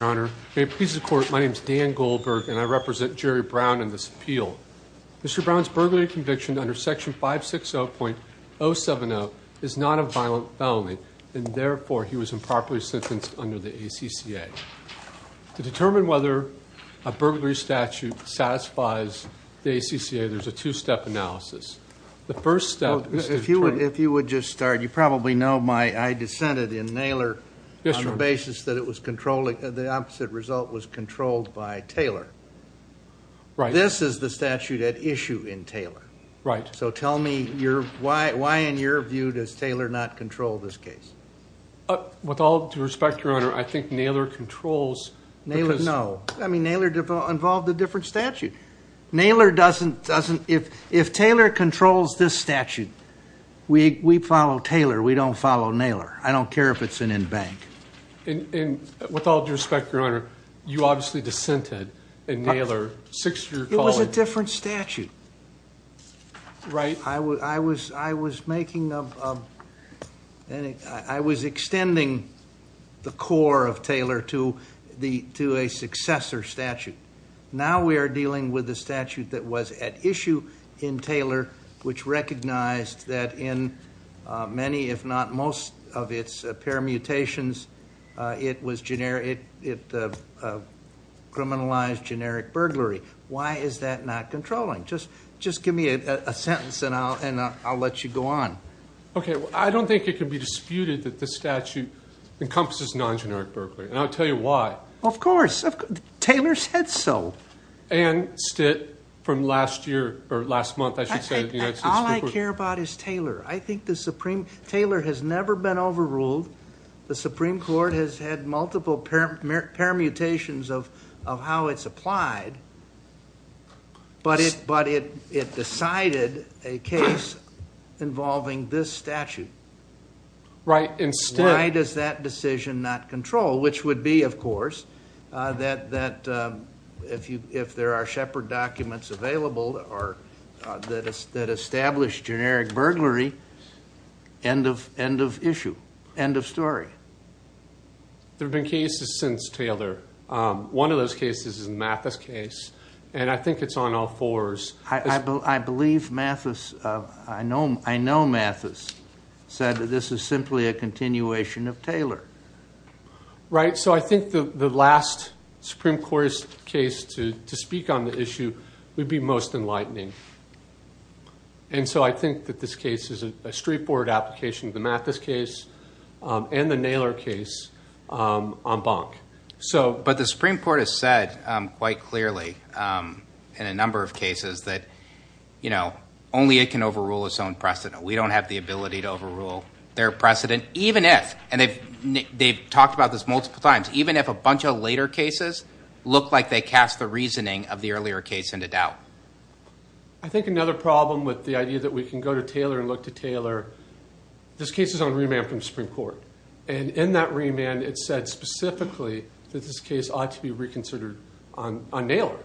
Your Honor, may it please the Court, my name is Dan Goldberg and I represent Jerry Brown in this appeal. Mr. Brown's burglary conviction under Section 560.070 is not a violent felony, and therefore he was improperly sentenced under the ACCA. To determine whether a burglary statute satisfies the ACCA, there's a two-step analysis. If you would just start, you probably know I dissented in Naylor on the basis that the opposite result was controlled by Taylor. This is the statute at issue in Taylor. So tell me, why in your view does Taylor not control this case? With all due respect, Your Honor, I think Naylor controls. Naylor, no. Naylor involved a different statute. Naylor doesn't, if Taylor controls this statute, we follow Taylor, we don't follow Naylor. I don't care if it's an in-bank. And with all due respect, Your Honor, you obviously dissented in Naylor. It was a different statute. Right. I was extending the core of Taylor to a successor statute. Now we are dealing with a statute that was at issue in Taylor, which recognized that in many, if not most, of its permutations, it criminalized generic burglary. Why is that not controlling? Just give me a sentence, and I'll let you go on. Okay, I don't think it can be disputed that this statute encompasses non-generic burglary, and I'll tell you why. Of course. Taylor said so. And, Stitt, from last year, or last month, I should say. All I care about is Taylor. I think the Supreme, Taylor has never been overruled. The Supreme Court has had multiple permutations of how it's applied, but it decided a case involving this statute. Right, and Stitt. Why does that decision not control? Which would be, of course, that if there are Shepard documents available that establish generic burglary, end of issue, end of story. There have been cases since Taylor. One of those cases is a Mathis case, and I think it's on all fours. I believe Mathis, I know Mathis, said that this is simply a continuation of Taylor. Right, so I think the last Supreme Court's case to speak on the issue would be most enlightening. And so I think that this case is a straightforward application of the Mathis case and the Naylor case on Bonk. But the Supreme Court has said quite clearly in a number of cases that only it can overrule its own precedent. We don't have the ability to overrule their precedent, even if, and they've talked about this multiple times, even if a bunch of later cases look like they cast the reasoning of the earlier case into doubt. I think another problem with the idea that we can go to Taylor and look to Taylor, this case is on remand from the Supreme Court. And in that remand, it said specifically that this case ought to be reconsidered on Naylor,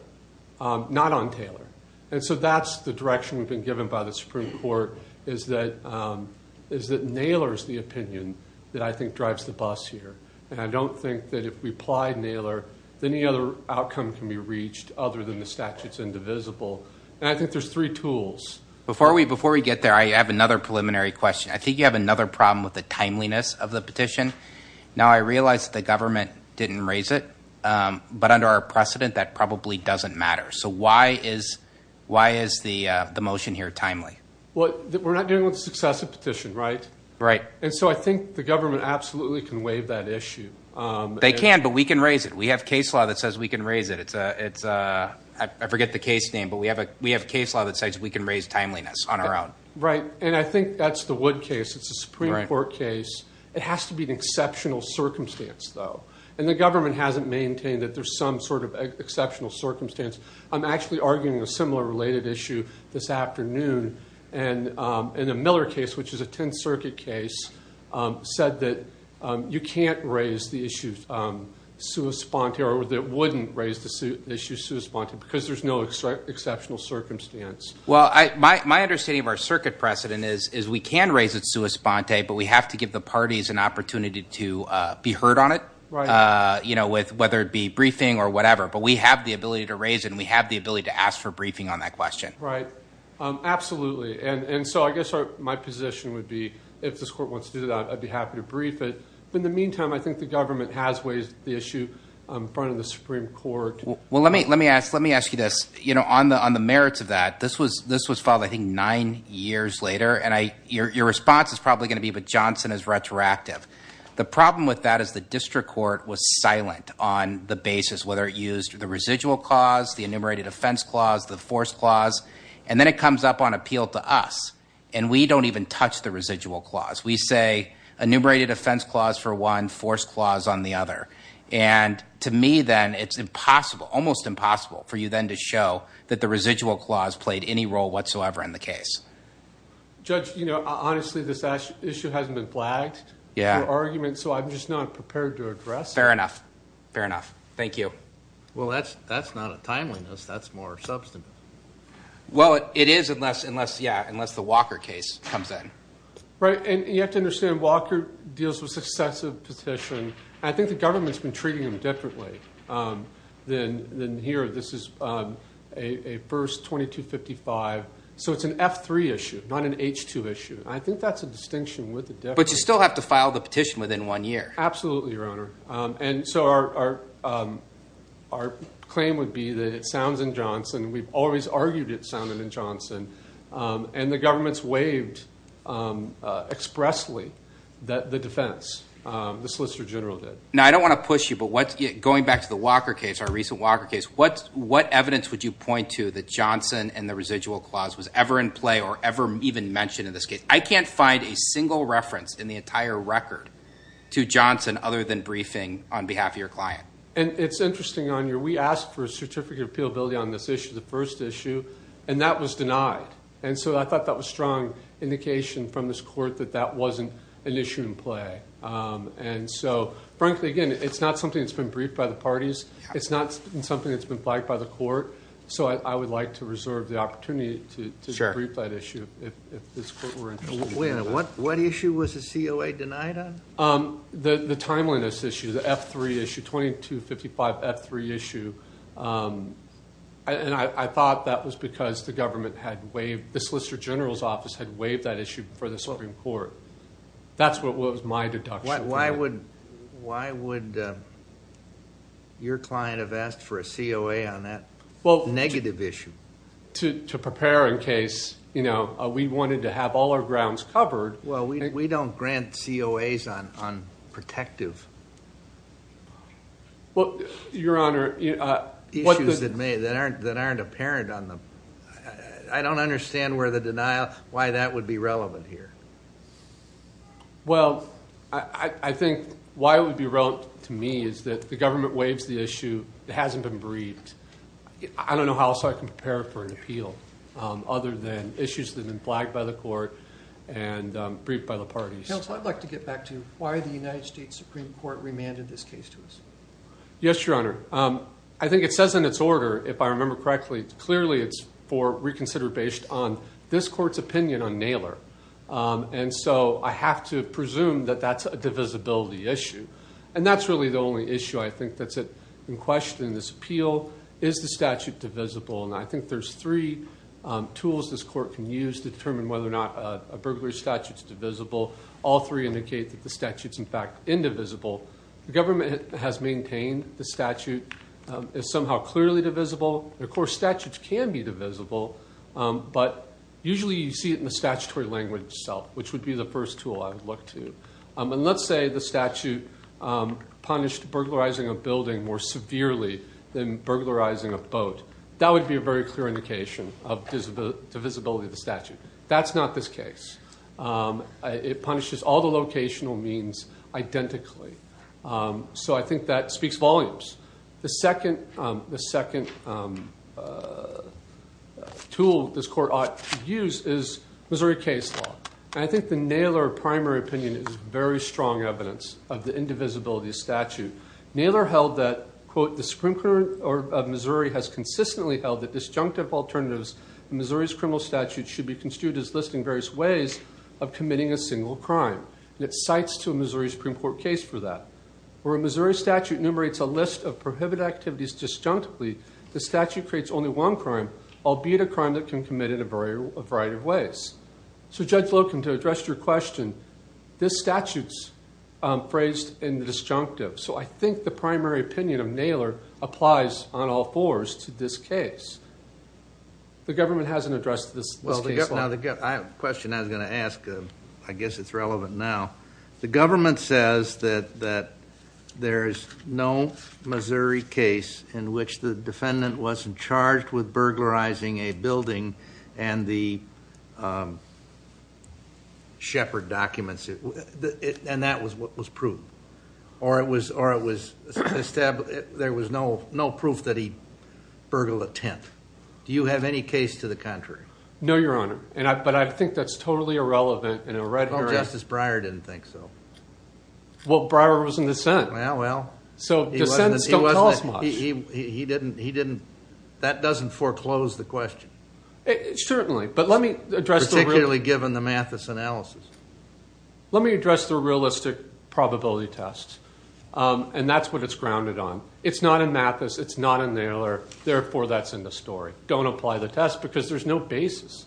not on Taylor. And so that's the direction we've been given by the Supreme Court, is that Naylor is the opinion that I think drives the bus here. And I don't think that if we apply Naylor, then any other outcome can be reached other than the statute's indivisible. And I think there's three tools. Before we get there, I have another preliminary question. I think you have another problem with the timeliness of the petition. Now, I realize that the government didn't raise it, but under our precedent, that probably doesn't matter. So why is the motion here timely? Well, we're not dealing with a successive petition, right? Right. And so I think the government absolutely can waive that issue. They can, but we can raise it. We have case law that says we can raise it. I forget the case name, but we have case law that says we can raise timeliness on our own. Right. And I think that's the Wood case. It's a Supreme Court case. It has to be an exceptional circumstance, though. And the government hasn't maintained that there's some sort of exceptional circumstance. I'm actually arguing a similar related issue this afternoon. And the Miller case, which is a Tenth Circuit case, said that you can't raise the issue sui sponte or that it wouldn't raise the issue sui sponte because there's no exceptional circumstance. Well, my understanding of our circuit precedent is we can raise it sui sponte, but we have to give the parties an opportunity to be heard on it, whether it be briefing or whatever. But we have the ability to raise it, and we have the ability to ask for briefing on that question. Right. Absolutely. And so I guess my position would be if this court wants to do that, I'd be happy to brief it. In the meantime, I think the government has raised the issue in front of the Supreme Court. Well, let me ask you this. On the merits of that, this was filed, I think, nine years later, and your response is probably going to be, but Johnson is retroactive. The problem with that is the district court was silent on the basis, whether it used the residual clause, the enumerated offense clause, the force clause, and then it comes up on appeal to us, and we don't even touch the residual clause. We say enumerated offense clause for one, force clause on the other. And to me, then, it's impossible, almost impossible, for you then to show that the residual clause played any role whatsoever in the case. Judge, you know, honestly, this issue hasn't been flagged for argument, so I'm just not prepared to address it. Fair enough. Fair enough. Thank you. Well, that's not a timeliness. That's more substantive. Well, it is unless, yeah, unless the Walker case comes in. Right, and you have to understand Walker deals with successive petition. I think the government's been treating them differently than here. This is a first 2255, so it's an F3 issue, not an H2 issue. I think that's a distinction with the difference. Absolutely, Your Honor. And so our claim would be that it sounds in Johnson. We've always argued it sounded in Johnson, and the government's waived expressly the defense, the Solicitor General did. Now, I don't want to push you, but going back to the Walker case, our recent Walker case, what evidence would you point to that Johnson and the residual clause was ever in play or ever even mentioned in this case? I can't find a single reference in the entire record to Johnson other than briefing on behalf of your client. And it's interesting, Your Honor. We asked for a certificate of appealability on this issue, the first issue, and that was denied. And so I thought that was a strong indication from this court that that wasn't an issue in play. And so, frankly, again, it's not something that's been briefed by the parties. It's not something that's been flagged by the court. So I would like to reserve the opportunity to brief that issue if this court were interested. What issue was the COA denied on? The timeliness issue, the F3 issue, 2255 F3 issue. And I thought that was because the government had waived, the Solicitor General's office had waived that issue before the Supreme Court. That's what was my deduction. Why would your client have asked for a COA on that negative issue? To prepare in case we wanted to have all our grounds covered. Well, we don't grant COAs on protective issues that aren't apparent. I don't understand why that would be relevant here. Well, I think why it would be relevant to me is that the government waives the issue. It hasn't been briefed. I don't know how else I can prepare for an appeal other than issues that have been flagged by the court and briefed by the parties. Counsel, I'd like to get back to why the United States Supreme Court remanded this case to us. Yes, Your Honor. I think it says in its order, if I remember correctly, clearly it's for reconsider based on this court's opinion on Naylor. And so I have to presume that that's a divisibility issue. And that's really the only issue I think that's in question in this appeal. Is the statute divisible? And I think there's three tools this court can use to determine whether or not a burglary statute's divisible. All three indicate that the statute's, in fact, indivisible. The government has maintained the statute is somehow clearly divisible. Of course, statutes can be divisible, but usually you see it in the statutory language itself, which would be the first tool I would look to. And let's say the statute punished burglarizing a building more severely than burglarizing a boat. That would be a very clear indication of divisibility of the statute. That's not this case. It punishes all the locational means identically. So I think that speaks volumes. The second tool this court ought to use is Missouri case law. And I think the Naylor primary opinion is very strong evidence of the indivisibility of statute. Naylor held that, quote, the Supreme Court of Missouri has consistently held that disjunctive alternatives to Missouri's criminal statute should be construed as listing various ways of committing a single crime. And it cites to a Missouri Supreme Court case for that. Where a Missouri statute enumerates a list of prohibited activities disjunctively, the statute creates only one crime, albeit a crime that can be committed in a variety of ways. So, Judge Locum, to address your question, this statute is phrased in the disjunctive. So I think the primary opinion of Naylor applies on all fours to this case. The government hasn't addressed this case law. Well, the question I was going to ask, I guess it's relevant now. The government says that there is no Missouri case in which the defendant wasn't charged with burglarizing a building and the shepherd documents. And that was what was proved. Or it was established there was no proof that he burgled a tent. Do you have any case to the contrary? No, Your Honor. But I think that's totally irrelevant. Well, Justice Breyer didn't think so. Well, Breyer was in dissent. Well, well. So dissents don't tell us much. He didn't. That doesn't foreclose the question. Certainly. Particularly given the Mathis analysis. Let me address the realistic probability test. And that's what it's grounded on. It's not in Mathis. It's not in Naylor. Therefore, that's in the story. Don't apply the test because there's no basis.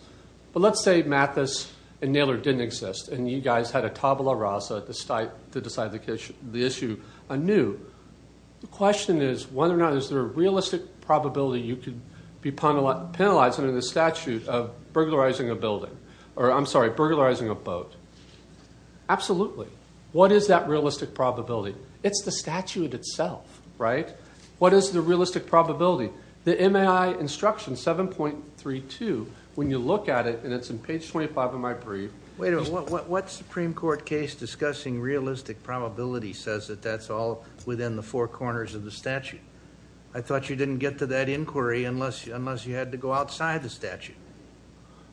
But let's say Mathis and Naylor didn't exist, and you guys had a tabula rasa to decide the issue anew. The question is whether or not is there a realistic probability you could be penalized under the statute of burglarizing a building. Or, I'm sorry, burglarizing a boat. Absolutely. What is that realistic probability? It's the statute itself, right? What is the realistic probability? The MAI instruction 7.32, when you look at it, and it's on page 25 of my brief. Wait a minute. What Supreme Court case discussing realistic probability says that that's all within the four corners of the statute? I thought you didn't get to that inquiry unless you had to go outside the statute.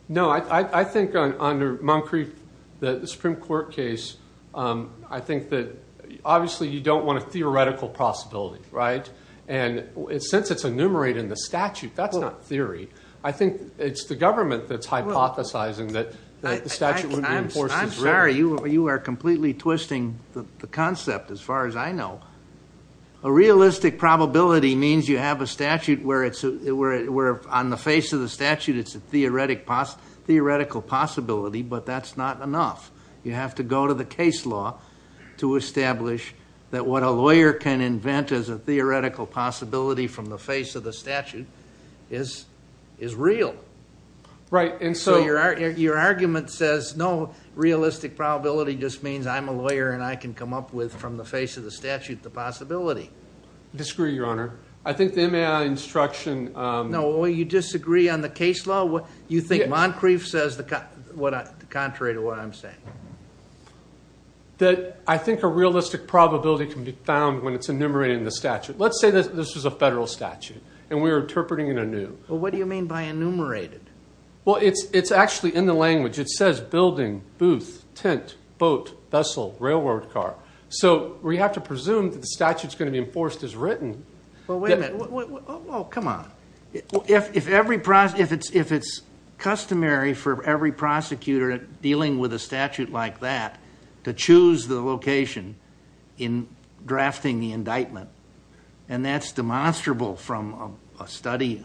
No, I think under Moncrief, the Supreme Court case, I think that obviously you don't want a theoretical possibility, right? And since it's enumerated in the statute, that's not theory. I think it's the government that's hypothesizing that the statute would be enforced as written. I'm sorry. You are completely twisting the concept as far as I know. A realistic probability means you have a statute where on the face of the statute it's a theoretical possibility, but that's not enough. You have to go to the case law to establish that what a lawyer can invent as a theoretical possibility from the face of the statute is real. Right. So your argument says no, realistic probability just means I'm a lawyer and I can come up with from the face of the statute the possibility. I disagree, Your Honor. I think the MAI instruction— No, you disagree on the case law? You think Moncrief says the contrary to what I'm saying? That I think a realistic probability can be found when it's enumerated in the statute. Let's say this was a federal statute and we were interpreting it anew. Well, what do you mean by enumerated? Well, it's actually in the language. It says building, booth, tent, boat, vessel, railroad car. So we have to presume that the statute's going to be enforced as written. Well, wait a minute. Oh, come on. If it's customary for every prosecutor dealing with a statute like that to choose the location in drafting the indictment, and that's demonstrable from a study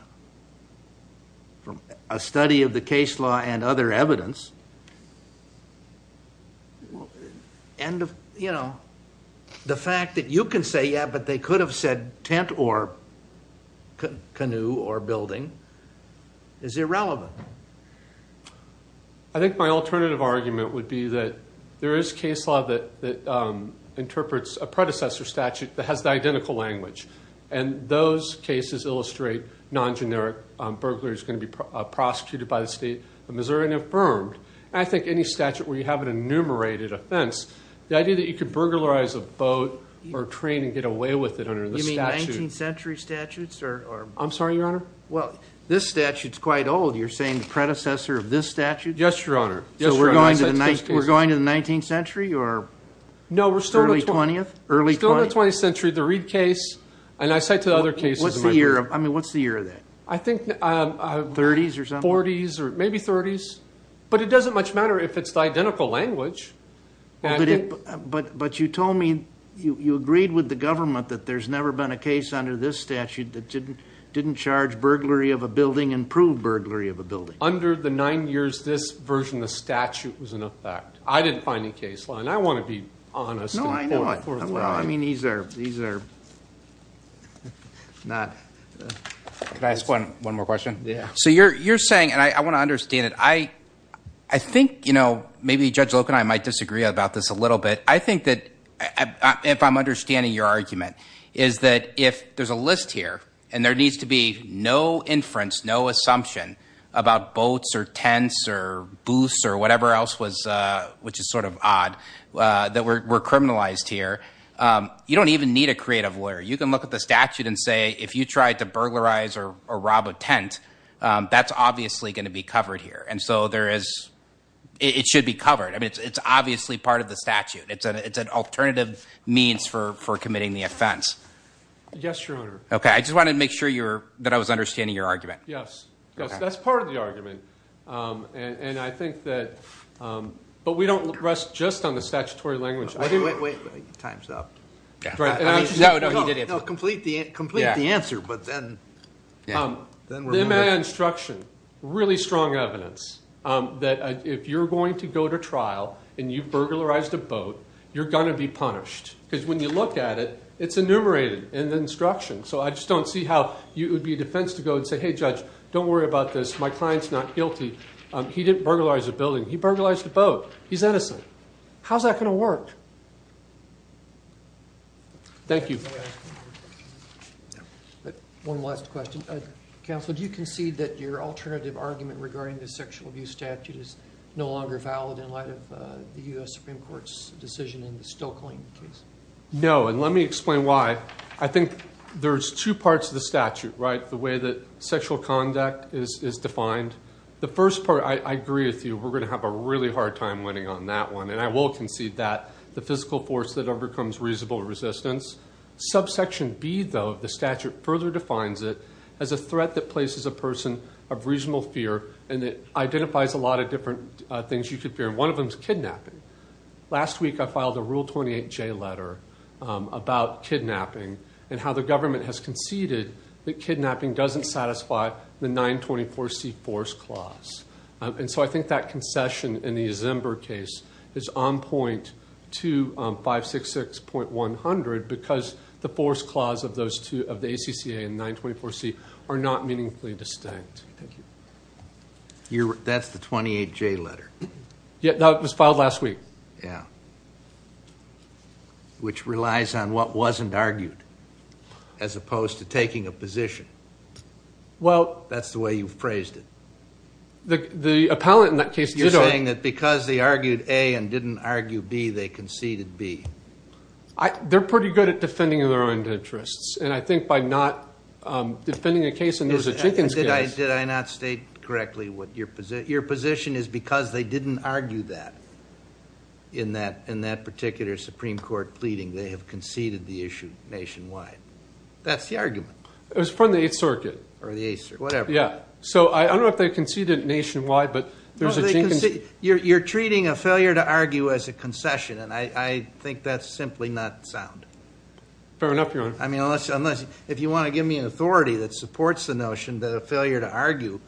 of the case law and other evidence, and, you know, the fact that you can say, yeah, but they could have said tent or canoe or building is irrelevant. I think my alternative argument would be that there is case law that interprets a predecessor statute that has the identical language, and those cases illustrate non-generic burglary is going to be prosecuted by the state of Missouri and affirmed. And I think any statute where you have an enumerated offense, the idea that you could burglarize a boat or train and get away with it under the statute. You mean 19th century statutes? I'm sorry, Your Honor? Well, this statute's quite old. You're saying the predecessor of this statute? Yes, Your Honor. So we're going to the 19th century or early 20th? No, we're still in the 20th century. The Reed case, and I cite the other cases in my book. What's the year of that? I think 40s or maybe 30s. But it doesn't much matter if it's the identical language. But you told me you agreed with the government that there's never been a case under this statute that didn't charge burglary of a building and prove burglary of a building. Under the nine years, this version of the statute was in effect. I didn't find any case law, and I want to be honest. No, I know. I mean, these are not. Can I ask one more question? Yeah. So you're saying, and I want to understand it, I think maybe Judge Loke and I might disagree about this a little bit. I think that if I'm understanding your argument, is that if there's a list here and there needs to be no inference, no assumption about boats or tents or booths or whatever else, which is sort of odd, that we're criminalized here, you don't even need a creative lawyer. You can look at the statute and say, if you tried to burglarize or rob a tent, that's obviously going to be covered here. And so it should be covered. I mean, it's obviously part of the statute. It's an alternative means for committing the offense. Yes, Your Honor. Okay. I just wanted to make sure that I was understanding your argument. Yes. That's part of the argument. And I think that, but we don't rest just on the statutory language. Wait, wait, wait. Time's up. No, no, you didn't. Complete the answer, but then. Then my instruction, really strong evidence that if you're going to go to trial and you've burglarized a boat, you're going to be punished. Because when you look at it, it's enumerated in the instruction. So I just don't see how it would be a defense to go and say, hey, judge, don't worry about this. My client's not guilty. He didn't burglarize a building. He burglarized a boat. He's innocent. How's that going to work? Thank you. One last question. Counsel, do you concede that your alternative argument regarding the sexual abuse statute is no longer valid in light of the U.S. Supreme Court's decision in the Stokeling case? No, and let me explain why. I think there's two parts of the statute, right, the way that sexual conduct is defined. The first part, I agree with you, we're going to have a really hard time winning on that one. And I will concede that. The physical force that overcomes reasonable resistance. Subsection B, though, of the statute, further defines it as a threat that places a person of reasonable fear. And it identifies a lot of different things you could fear. And one of them is kidnapping. Last week I filed a Rule 28J letter about kidnapping and how the government has conceded that kidnapping doesn't satisfy the 924C force clause. And so I think that concession in the Zimber case is on point to 566.100 because the force clause of those two, of the ACCA and 924C, are not meaningfully distinct. Thank you. That's the 28J letter? Yeah, that was filed last week. Yeah. Which relies on what wasn't argued as opposed to taking a position. That's the way you've praised it. The appellant in that case did argue. You're saying that because they argued A and didn't argue B, they conceded B. They're pretty good at defending their own interests. And I think by not defending a case and there was a Jenkins case. Did I not state correctly what your position is? Your position is because they didn't argue that in that particular Supreme Court pleading, they have conceded the issue nationwide. That's the argument. It was from the 8th Circuit. Or the 8th Circuit, whatever. Yeah. So I don't know if they conceded it nationwide, but there's a Jenkins case. You're treating a failure to argue as a concession, and I think that's simply not sound. Fair enough, Your Honor. I mean, unless you want to give me an authority that supports the notion that a failure to argue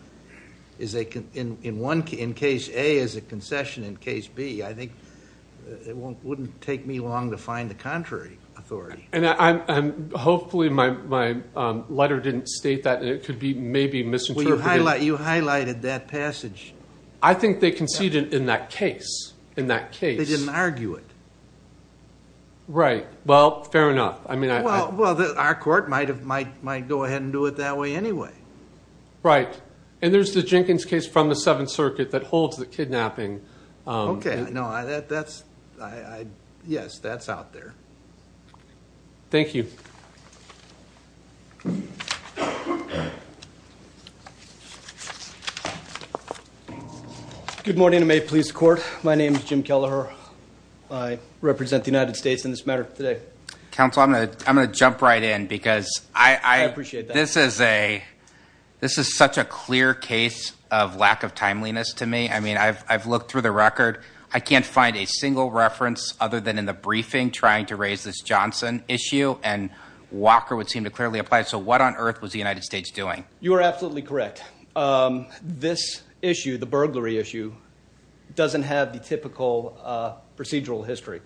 in case A is a concession in case B, I think it wouldn't take me long to find the contrary authority. And hopefully my letter didn't state that, and it could be maybe misinterpreted. Well, you highlighted that passage. I think they conceded in that case. In that case. They didn't argue it. Right. Well, fair enough. Well, our court might go ahead and do it that way anyway. Right. And there's the Jenkins case from the 7th Circuit that holds the kidnapping. Okay. Yes, that's out there. Thank you. Good morning and may it please the court. My name is Jim Kelleher. I represent the United States in this matter today. Counsel, I'm going to jump right in because this is such a clear case of lack of timeliness to me. I mean, I've looked through the record. I can't find a single reference other than in the briefing trying to raise this Johnson issue, and Walker would seem to clearly apply it. So what on earth was the United States doing? You are absolutely correct. This issue, the burglary issue, doesn't have the typical procedural history.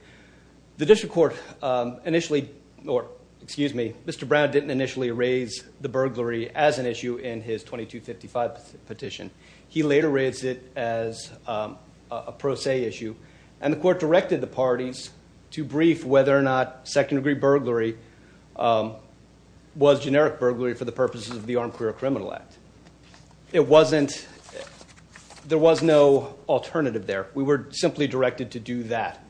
The district court initially, or excuse me, Mr. Brown didn't initially raise the burglary as an issue in his 2255 petition. He later raised it as a pro se issue, and the court directed the parties to brief whether or not second degree burglary was generic burglary for the purposes of the Armed Career Criminal Act. It wasn't, there was no alternative there. We were simply directed to do that,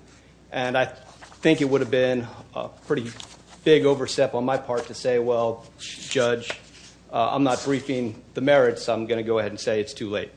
and I think it would have been a pretty big overstep on my part to say, well, Judge, I'm not briefing the merits. I'm going to go ahead and say it's too late.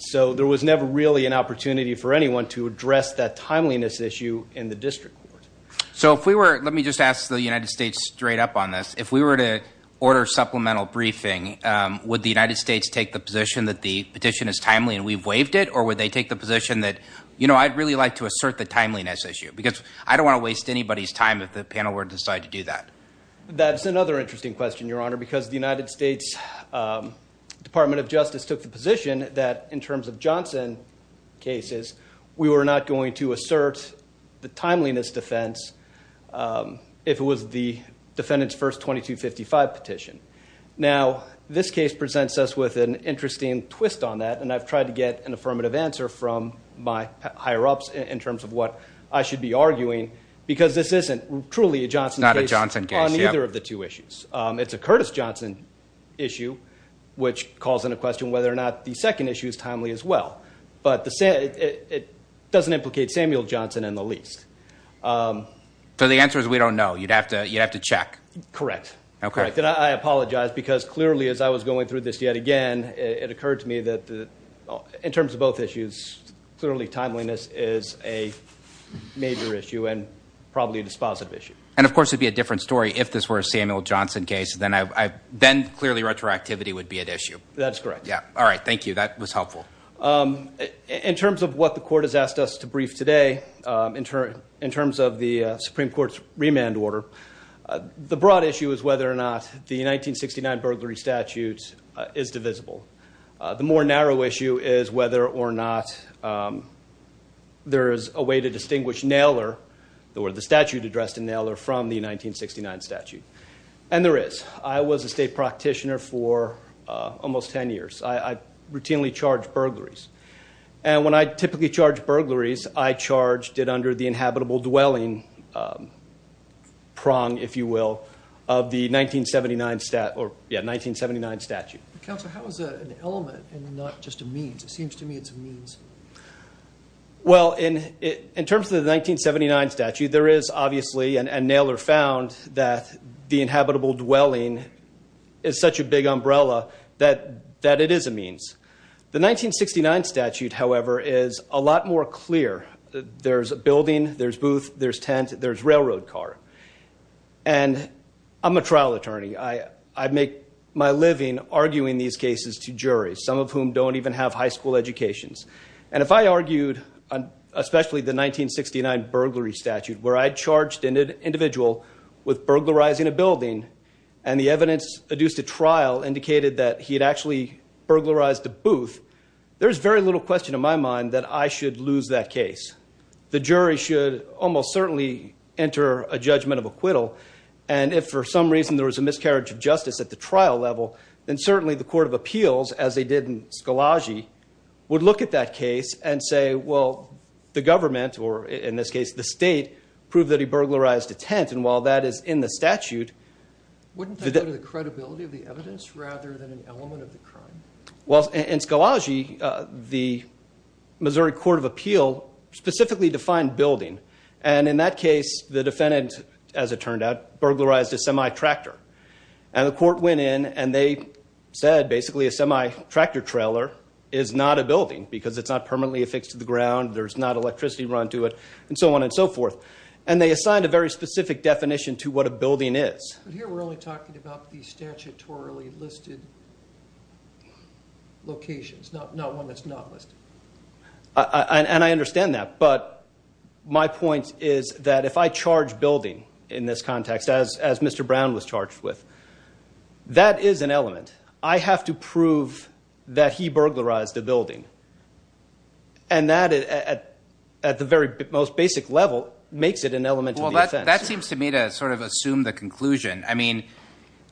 So there was never really an opportunity for anyone to address that timeliness issue in the district court. So if we were, let me just ask the United States straight up on this. If we were to order supplemental briefing, would the United States take the position that the petition is timely and we've waived it, or would they take the position that, you know, I'd really like to assert the timeliness issue because I don't want to waste anybody's time if the panel were to decide to do that? That's another interesting question, Your Honor, because the United States Department of Justice took the position that, in terms of Johnson cases, we were not going to assert the timeliness defense if it was the defendant's first 2255 petition. Now, this case presents us with an interesting twist on that, and I've tried to get an affirmative answer from my higher-ups in terms of what I should be arguing, because this isn't truly a Johnson case on either of the two issues. It's a Curtis Johnson issue, which calls into question whether or not the second issue is timely as well. But it doesn't implicate Samuel Johnson in the least. So the answer is we don't know. You'd have to check. Correct. And I apologize because clearly, as I was going through this yet again, it occurred to me that, in terms of both issues, clearly timeliness is a major issue and probably a dispositive issue. And, of course, it would be a different story if this were a Samuel Johnson case. Then clearly retroactivity would be at issue. That's correct. All right. Thank you. That was helpful. In terms of what the Court has asked us to brief today, in terms of the Supreme Court's remand order, the broad issue is whether or not the 1969 burglary statute is divisible. The more narrow issue is whether or not there is a way to distinguish Naylor, or the statute addressed in Naylor, from the 1969 statute. And there is. I was a state practitioner for almost 10 years. I routinely charged burglaries. And when I typically charge burglaries, I charged it under the inhabitable dwelling prong, if you will, of the 1979 statute. Counsel, how is that an element and not just a means? It seems to me it's a means. Well, in terms of the 1979 statute, there is, obviously, and Naylor found that the inhabitable dwelling is such a big umbrella that it is a means. The 1969 statute, however, is a lot more clear. There's a building, there's booth, there's tent, there's railroad car. And I'm a trial attorney. I make my living arguing these cases to juries, some of whom don't even have high school educations. And if I argued, especially the 1969 burglary statute, where I charged an individual with burglarizing a building, and the evidence adduced at trial indicated that he had actually burglarized a booth, there's very little question in my mind that I should lose that case. The jury should almost certainly enter a judgment of acquittal. And if, for some reason, there was a miscarriage of justice at the trial level, then certainly the court of appeals, as they did in Skolaji, would look at that case and say, well, the government, or in this case the state, proved that he burglarized a tent. And while that is in the statute. Wouldn't that go to the credibility of the evidence rather than an element of the crime? Well, in Skolaji, the Missouri Court of Appeal specifically defined building. And in that case, the defendant, as it turned out, burglarized a semi-tractor. And the court went in and they said, basically, a semi-tractor trailer is not a building because it's not permanently affixed to the ground, there's not electricity run to it, and so on and so forth. And they assigned a very specific definition to what a building is. But here we're only talking about the statutorily listed locations, not one that's not listed. And I understand that. But my point is that if I charge building in this context, as Mr. Brown was charged with, that is an element. I have to prove that he burglarized a building. And that, at the very most basic level, makes it an element of the offense. Well, that seems to me to sort of assume the conclusion. I mean,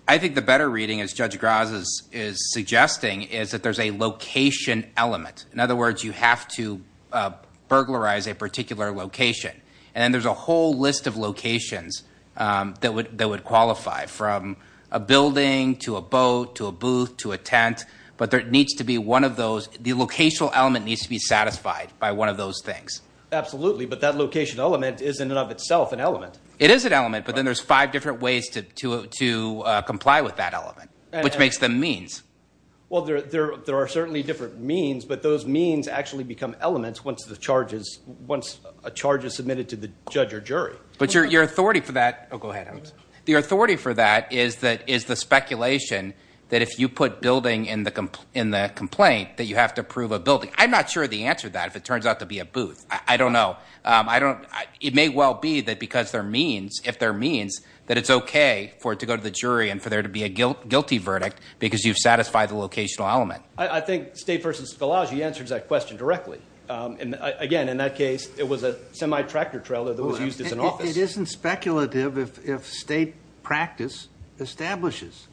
I think the better reading, as Judge Graz is suggesting, is that there's a location element. In other words, you have to burglarize a particular location. And then there's a whole list of locations that would qualify from a building to a boat to a booth to a tent. But there needs to be one of those. The locational element needs to be satisfied by one of those things. Absolutely. But that location element is, in and of itself, an element. It is an element. But then there's five different ways to comply with that element, which makes them means. Well, there are certainly different means. But those means actually become elements once a charge is submitted to the judge or jury. But your authority for that is the speculation that if you put building in the complaint, that you have to prove a building. I'm not sure of the answer to that, if it turns out to be a booth. I don't know. It may well be that because there are means, if there are means, that it's okay for it to go to the jury and for there to be a guilty verdict because you've satisfied the locational element. I think State v. Scholage, he answers that question directly. Again, in that case, it was a semi-tractor trailer that was used as an office. It isn't speculative if State practice establishes.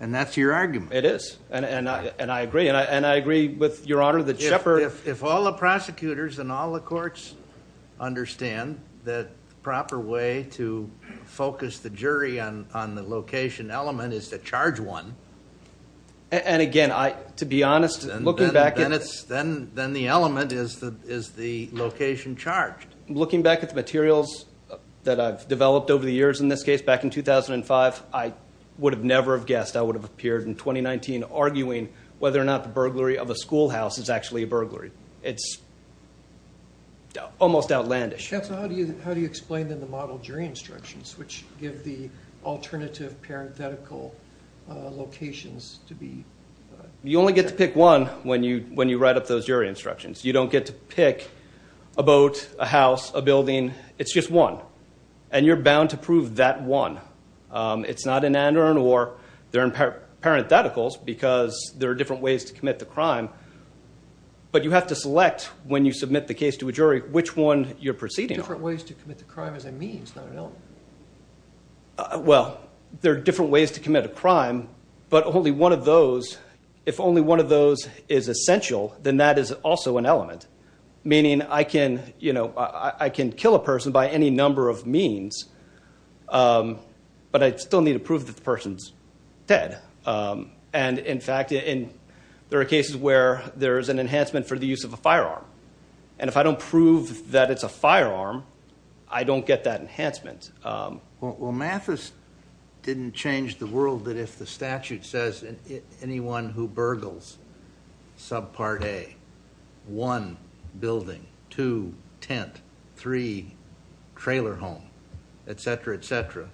And that's your argument. It is. And I agree. And I agree with Your Honor that Shepard If all the prosecutors and all the courts understand that the proper way to focus the jury on the location element is to charge one. And, again, to be honest, looking back Then the element is the location charged. Looking back at the materials that I've developed over the years in this case, back in 2005, I would have never have guessed I would have appeared in 2019 arguing whether or not the burglary of a schoolhouse is actually a burglary. It's almost outlandish. Counsel, how do you explain, then, the model jury instructions, which give the alternative parenthetical locations to be You only get to pick one when you write up those jury instructions. You don't get to pick a boat, a house, a building. It's just one. And you're bound to prove that one. It's not an and-or, or they're in parentheticals because there are different ways to commit the crime. But you have to select, when you submit the case to a jury, which one you're proceeding on. Different ways to commit the crime is a means, not an element. Well, there are different ways to commit a crime. But only one of those, if only one of those is essential, then that is also an element. Meaning I can, you know, I can kill a person by any number of means. But I still need to prove that the person's dead. And, in fact, there are cases where there is an enhancement for the use of a firearm. And if I don't prove that it's a firearm, I don't get that enhancement. Well, Mathis didn't change the world that if the statute says anyone who burgles subpart A, one building, two tent, three trailer home, et cetera, et cetera,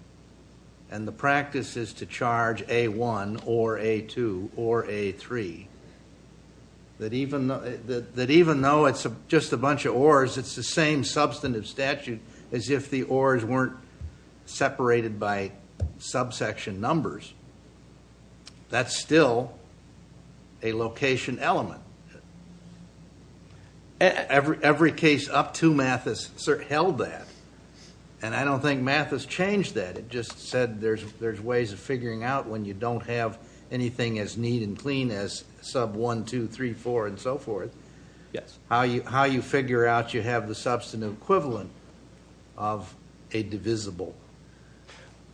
and the practice is to charge A1 or A2 or A3, that even though it's just a bunch of ors, it's the same substantive statute as if the ors weren't separated by subsection numbers. That's still a location element. Every case up to Mathis held that. And I don't think Mathis changed that. It just said there's ways of figuring out when you don't have anything as neat and clean as sub1, 2, 3, 4, and so forth, how you figure out you have the substantive equivalent of a divisible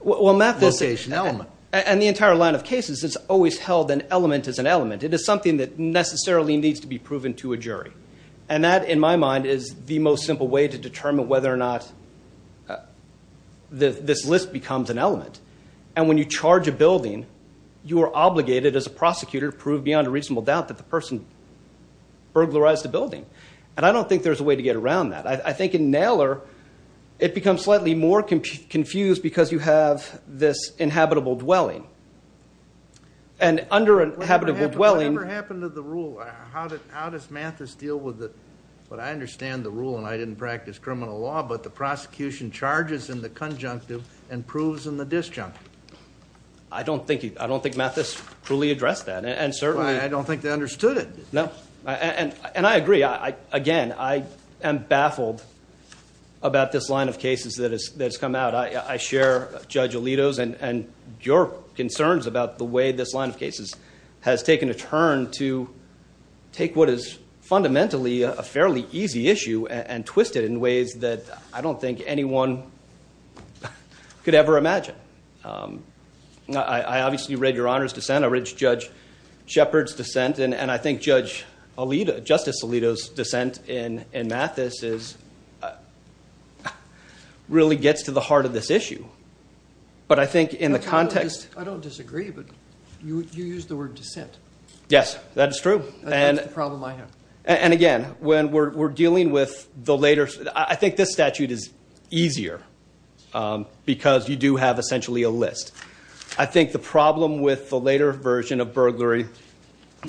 location element. Well, Mathis and the entire line of cases has always held an element as an element. It is something that necessarily needs to be proven to a jury. And that, in my mind, is the most simple way to determine whether or not this list becomes an element. And when you charge a building, you are obligated, as a prosecutor, to prove beyond a reasonable doubt that the person burglarized the building. And I don't think there's a way to get around that. I think in Naylor, it becomes slightly more confused because you have this inhabitable dwelling. And under a habitable dwelling... What ever happened to the rule? How does Mathis deal with it? But I understand the rule, and I didn't practice criminal law, but the prosecution charges in the conjunctive and proves in the disjunctive. I don't think Mathis truly addressed that. And certainly... I don't think they understood it. No. And I agree. Again, I am baffled about this line of cases that has come out. I share Judge Alito's and your concerns about the way this line of cases has taken a turn to take what is fundamentally a fairly easy issue and twist it in ways that I don't think anyone could ever imagine. I obviously read Your Honor's dissent. I read Judge Shepard's dissent. And I think Justice Alito's dissent in Mathis really gets to the heart of this issue. But I think in the context... I don't disagree, but you used the word dissent. Yes, that is true. That's the problem I have. And again, when we're dealing with the later... I think this statute is easier because you do have essentially a list. I think the problem with the later version of burglary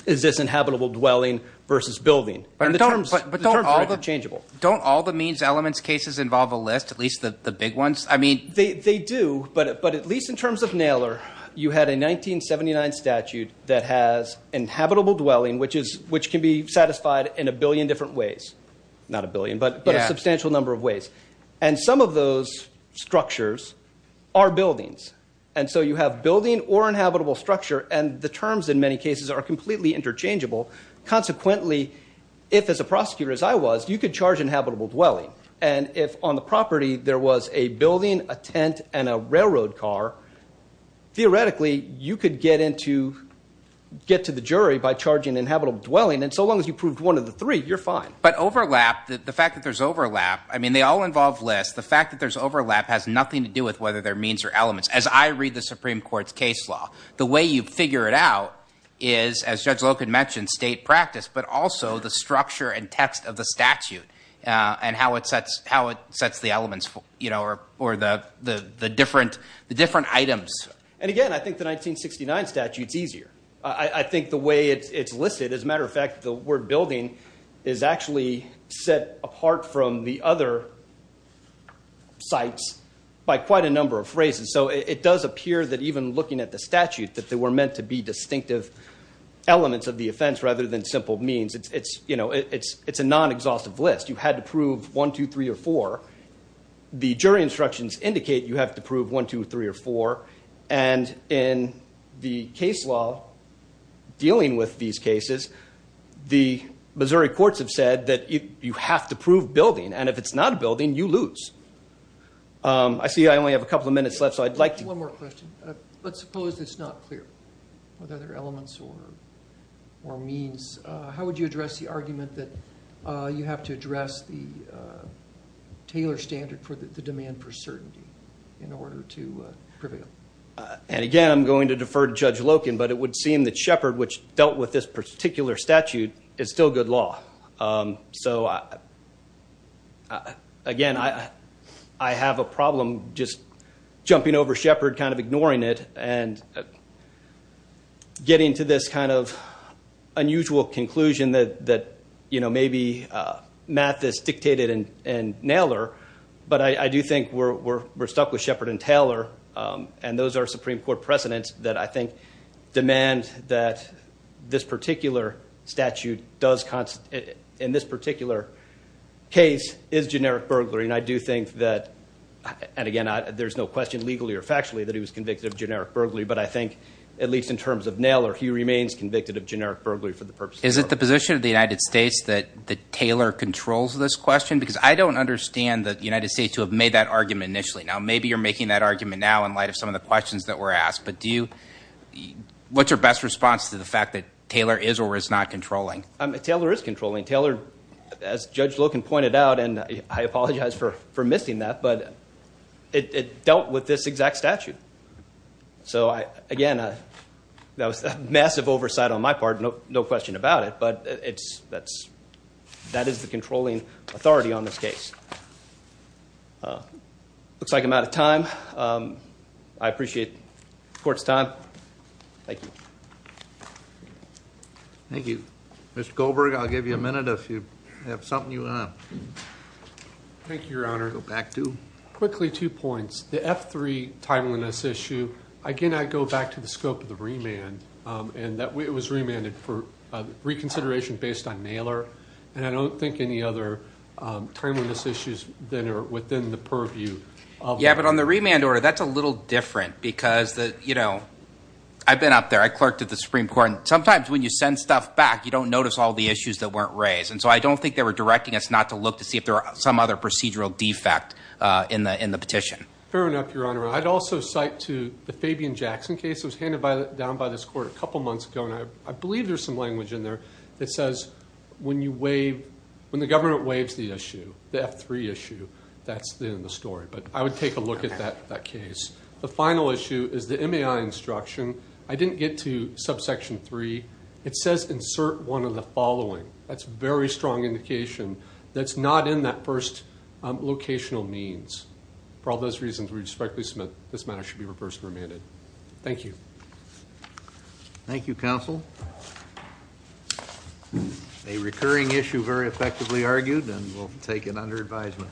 is this inhabitable dwelling versus building. But don't all the means, elements, cases involve a list, at least the big ones? They do, but at least in terms of Naylor, you had a 1979 statute that has inhabitable dwelling, which can be satisfied in a billion different ways. Not a billion, but a substantial number of ways. And some of those structures are buildings. And so you have building or inhabitable structure, and the terms in many cases are completely interchangeable. Consequently, if, as a prosecutor as I was, you could charge inhabitable dwelling, and if on the property there was a building, a tent, and a railroad car, theoretically you could get to the jury by charging inhabitable dwelling. And so long as you proved one of the three, you're fine. But overlap, the fact that there's overlap, I mean they all involve lists, the fact that there's overlap has nothing to do with whether they're means or elements. As I read the Supreme Court's case law, the way you figure it out is, as Judge Loken mentioned, state practice, but also the structure and text of the statute and how it sets the elements or the different items. And again, I think the 1969 statute's easier. I think the way it's listed, as a matter of fact, the word building is actually set apart from the other sites by quite a number of phrases. So it does appear that even looking at the statute, that there were meant to be distinctive elements of the offense rather than simple means. It's a non-exhaustive list. You had to prove one, two, three, or four. The jury instructions indicate you have to prove one, two, three, or four. And in the case law dealing with these cases, the Missouri courts have said that you have to prove building, and if it's not a building, you lose. I see I only have a couple of minutes left, so I'd like to... One more question. Let's suppose it's not clear whether they're elements or means. How would you address the argument that you have to address the Taylor standard for the demand for certainty in order to prevail? And again, I'm going to defer to Judge Loken, but it would seem that Shepard, which dealt with this particular statute, is still good law. So, again, I have a problem just jumping over Shepard, kind of ignoring it, and getting to this kind of unusual conclusion that, you know, maybe math is dictated in Naylor, but I do think we're stuck with Shepard and Taylor, and those are Supreme Court precedents that I think demand that this particular statute does constitute, in this particular case, is generic burglary. And I do think that, and again, there's no question, legally or factually, that he was convicted of generic burglary, but I think, at least in terms of Naylor, he remains convicted of generic burglary for the purposes of burglary. Is it the position of the United States that Taylor controls this question? Because I don't understand the United States to have made that argument initially. Now, maybe you're making that argument now in light of some of the questions that were asked, but what's your best response to the fact that Taylor is or is not controlling? Taylor is controlling. Taylor, as Judge Loken pointed out, and I apologize for missing that, but it dealt with this exact statute. So, again, that was a massive oversight on my part, no question about it, but that is the controlling authority on this case. Looks like I'm out of time. I appreciate the Court's time. Thank you. Thank you. Mr. Goldberg, I'll give you a minute if you have something you want to add. Thank you, Your Honor. Go back to? Quickly, two points. The F3 timeliness issue, again, I go back to the scope of the remand, and it was remanded for reconsideration based on Naylor, and I don't think any other timeliness issues that are within the purview. Yeah, but on the remand order, that's a little different because, you know, I've been up there. I clerked at the Supreme Court, and sometimes when you send stuff back, you don't notice all the issues that weren't raised, and so I don't think they were directing us not to look to see if there are some other procedural defect in the petition. Fair enough, Your Honor. I'd also cite to the Fabian Jackson case. It was handed down by this Court a couple months ago, and I believe there's some language in there that says when you waive, when the government waives the issue, the F3 issue, that's the end of the story. But I would take a look at that case. The final issue is the MAI instruction. I didn't get to subsection 3. It says insert one of the following. That's a very strong indication that's not in that first locational means. For all those reasons, we respectfully submit this matter should be reversed and remanded. Thank you. Thank you, counsel. A recurring issue very effectively argued, and we'll take it under advisement.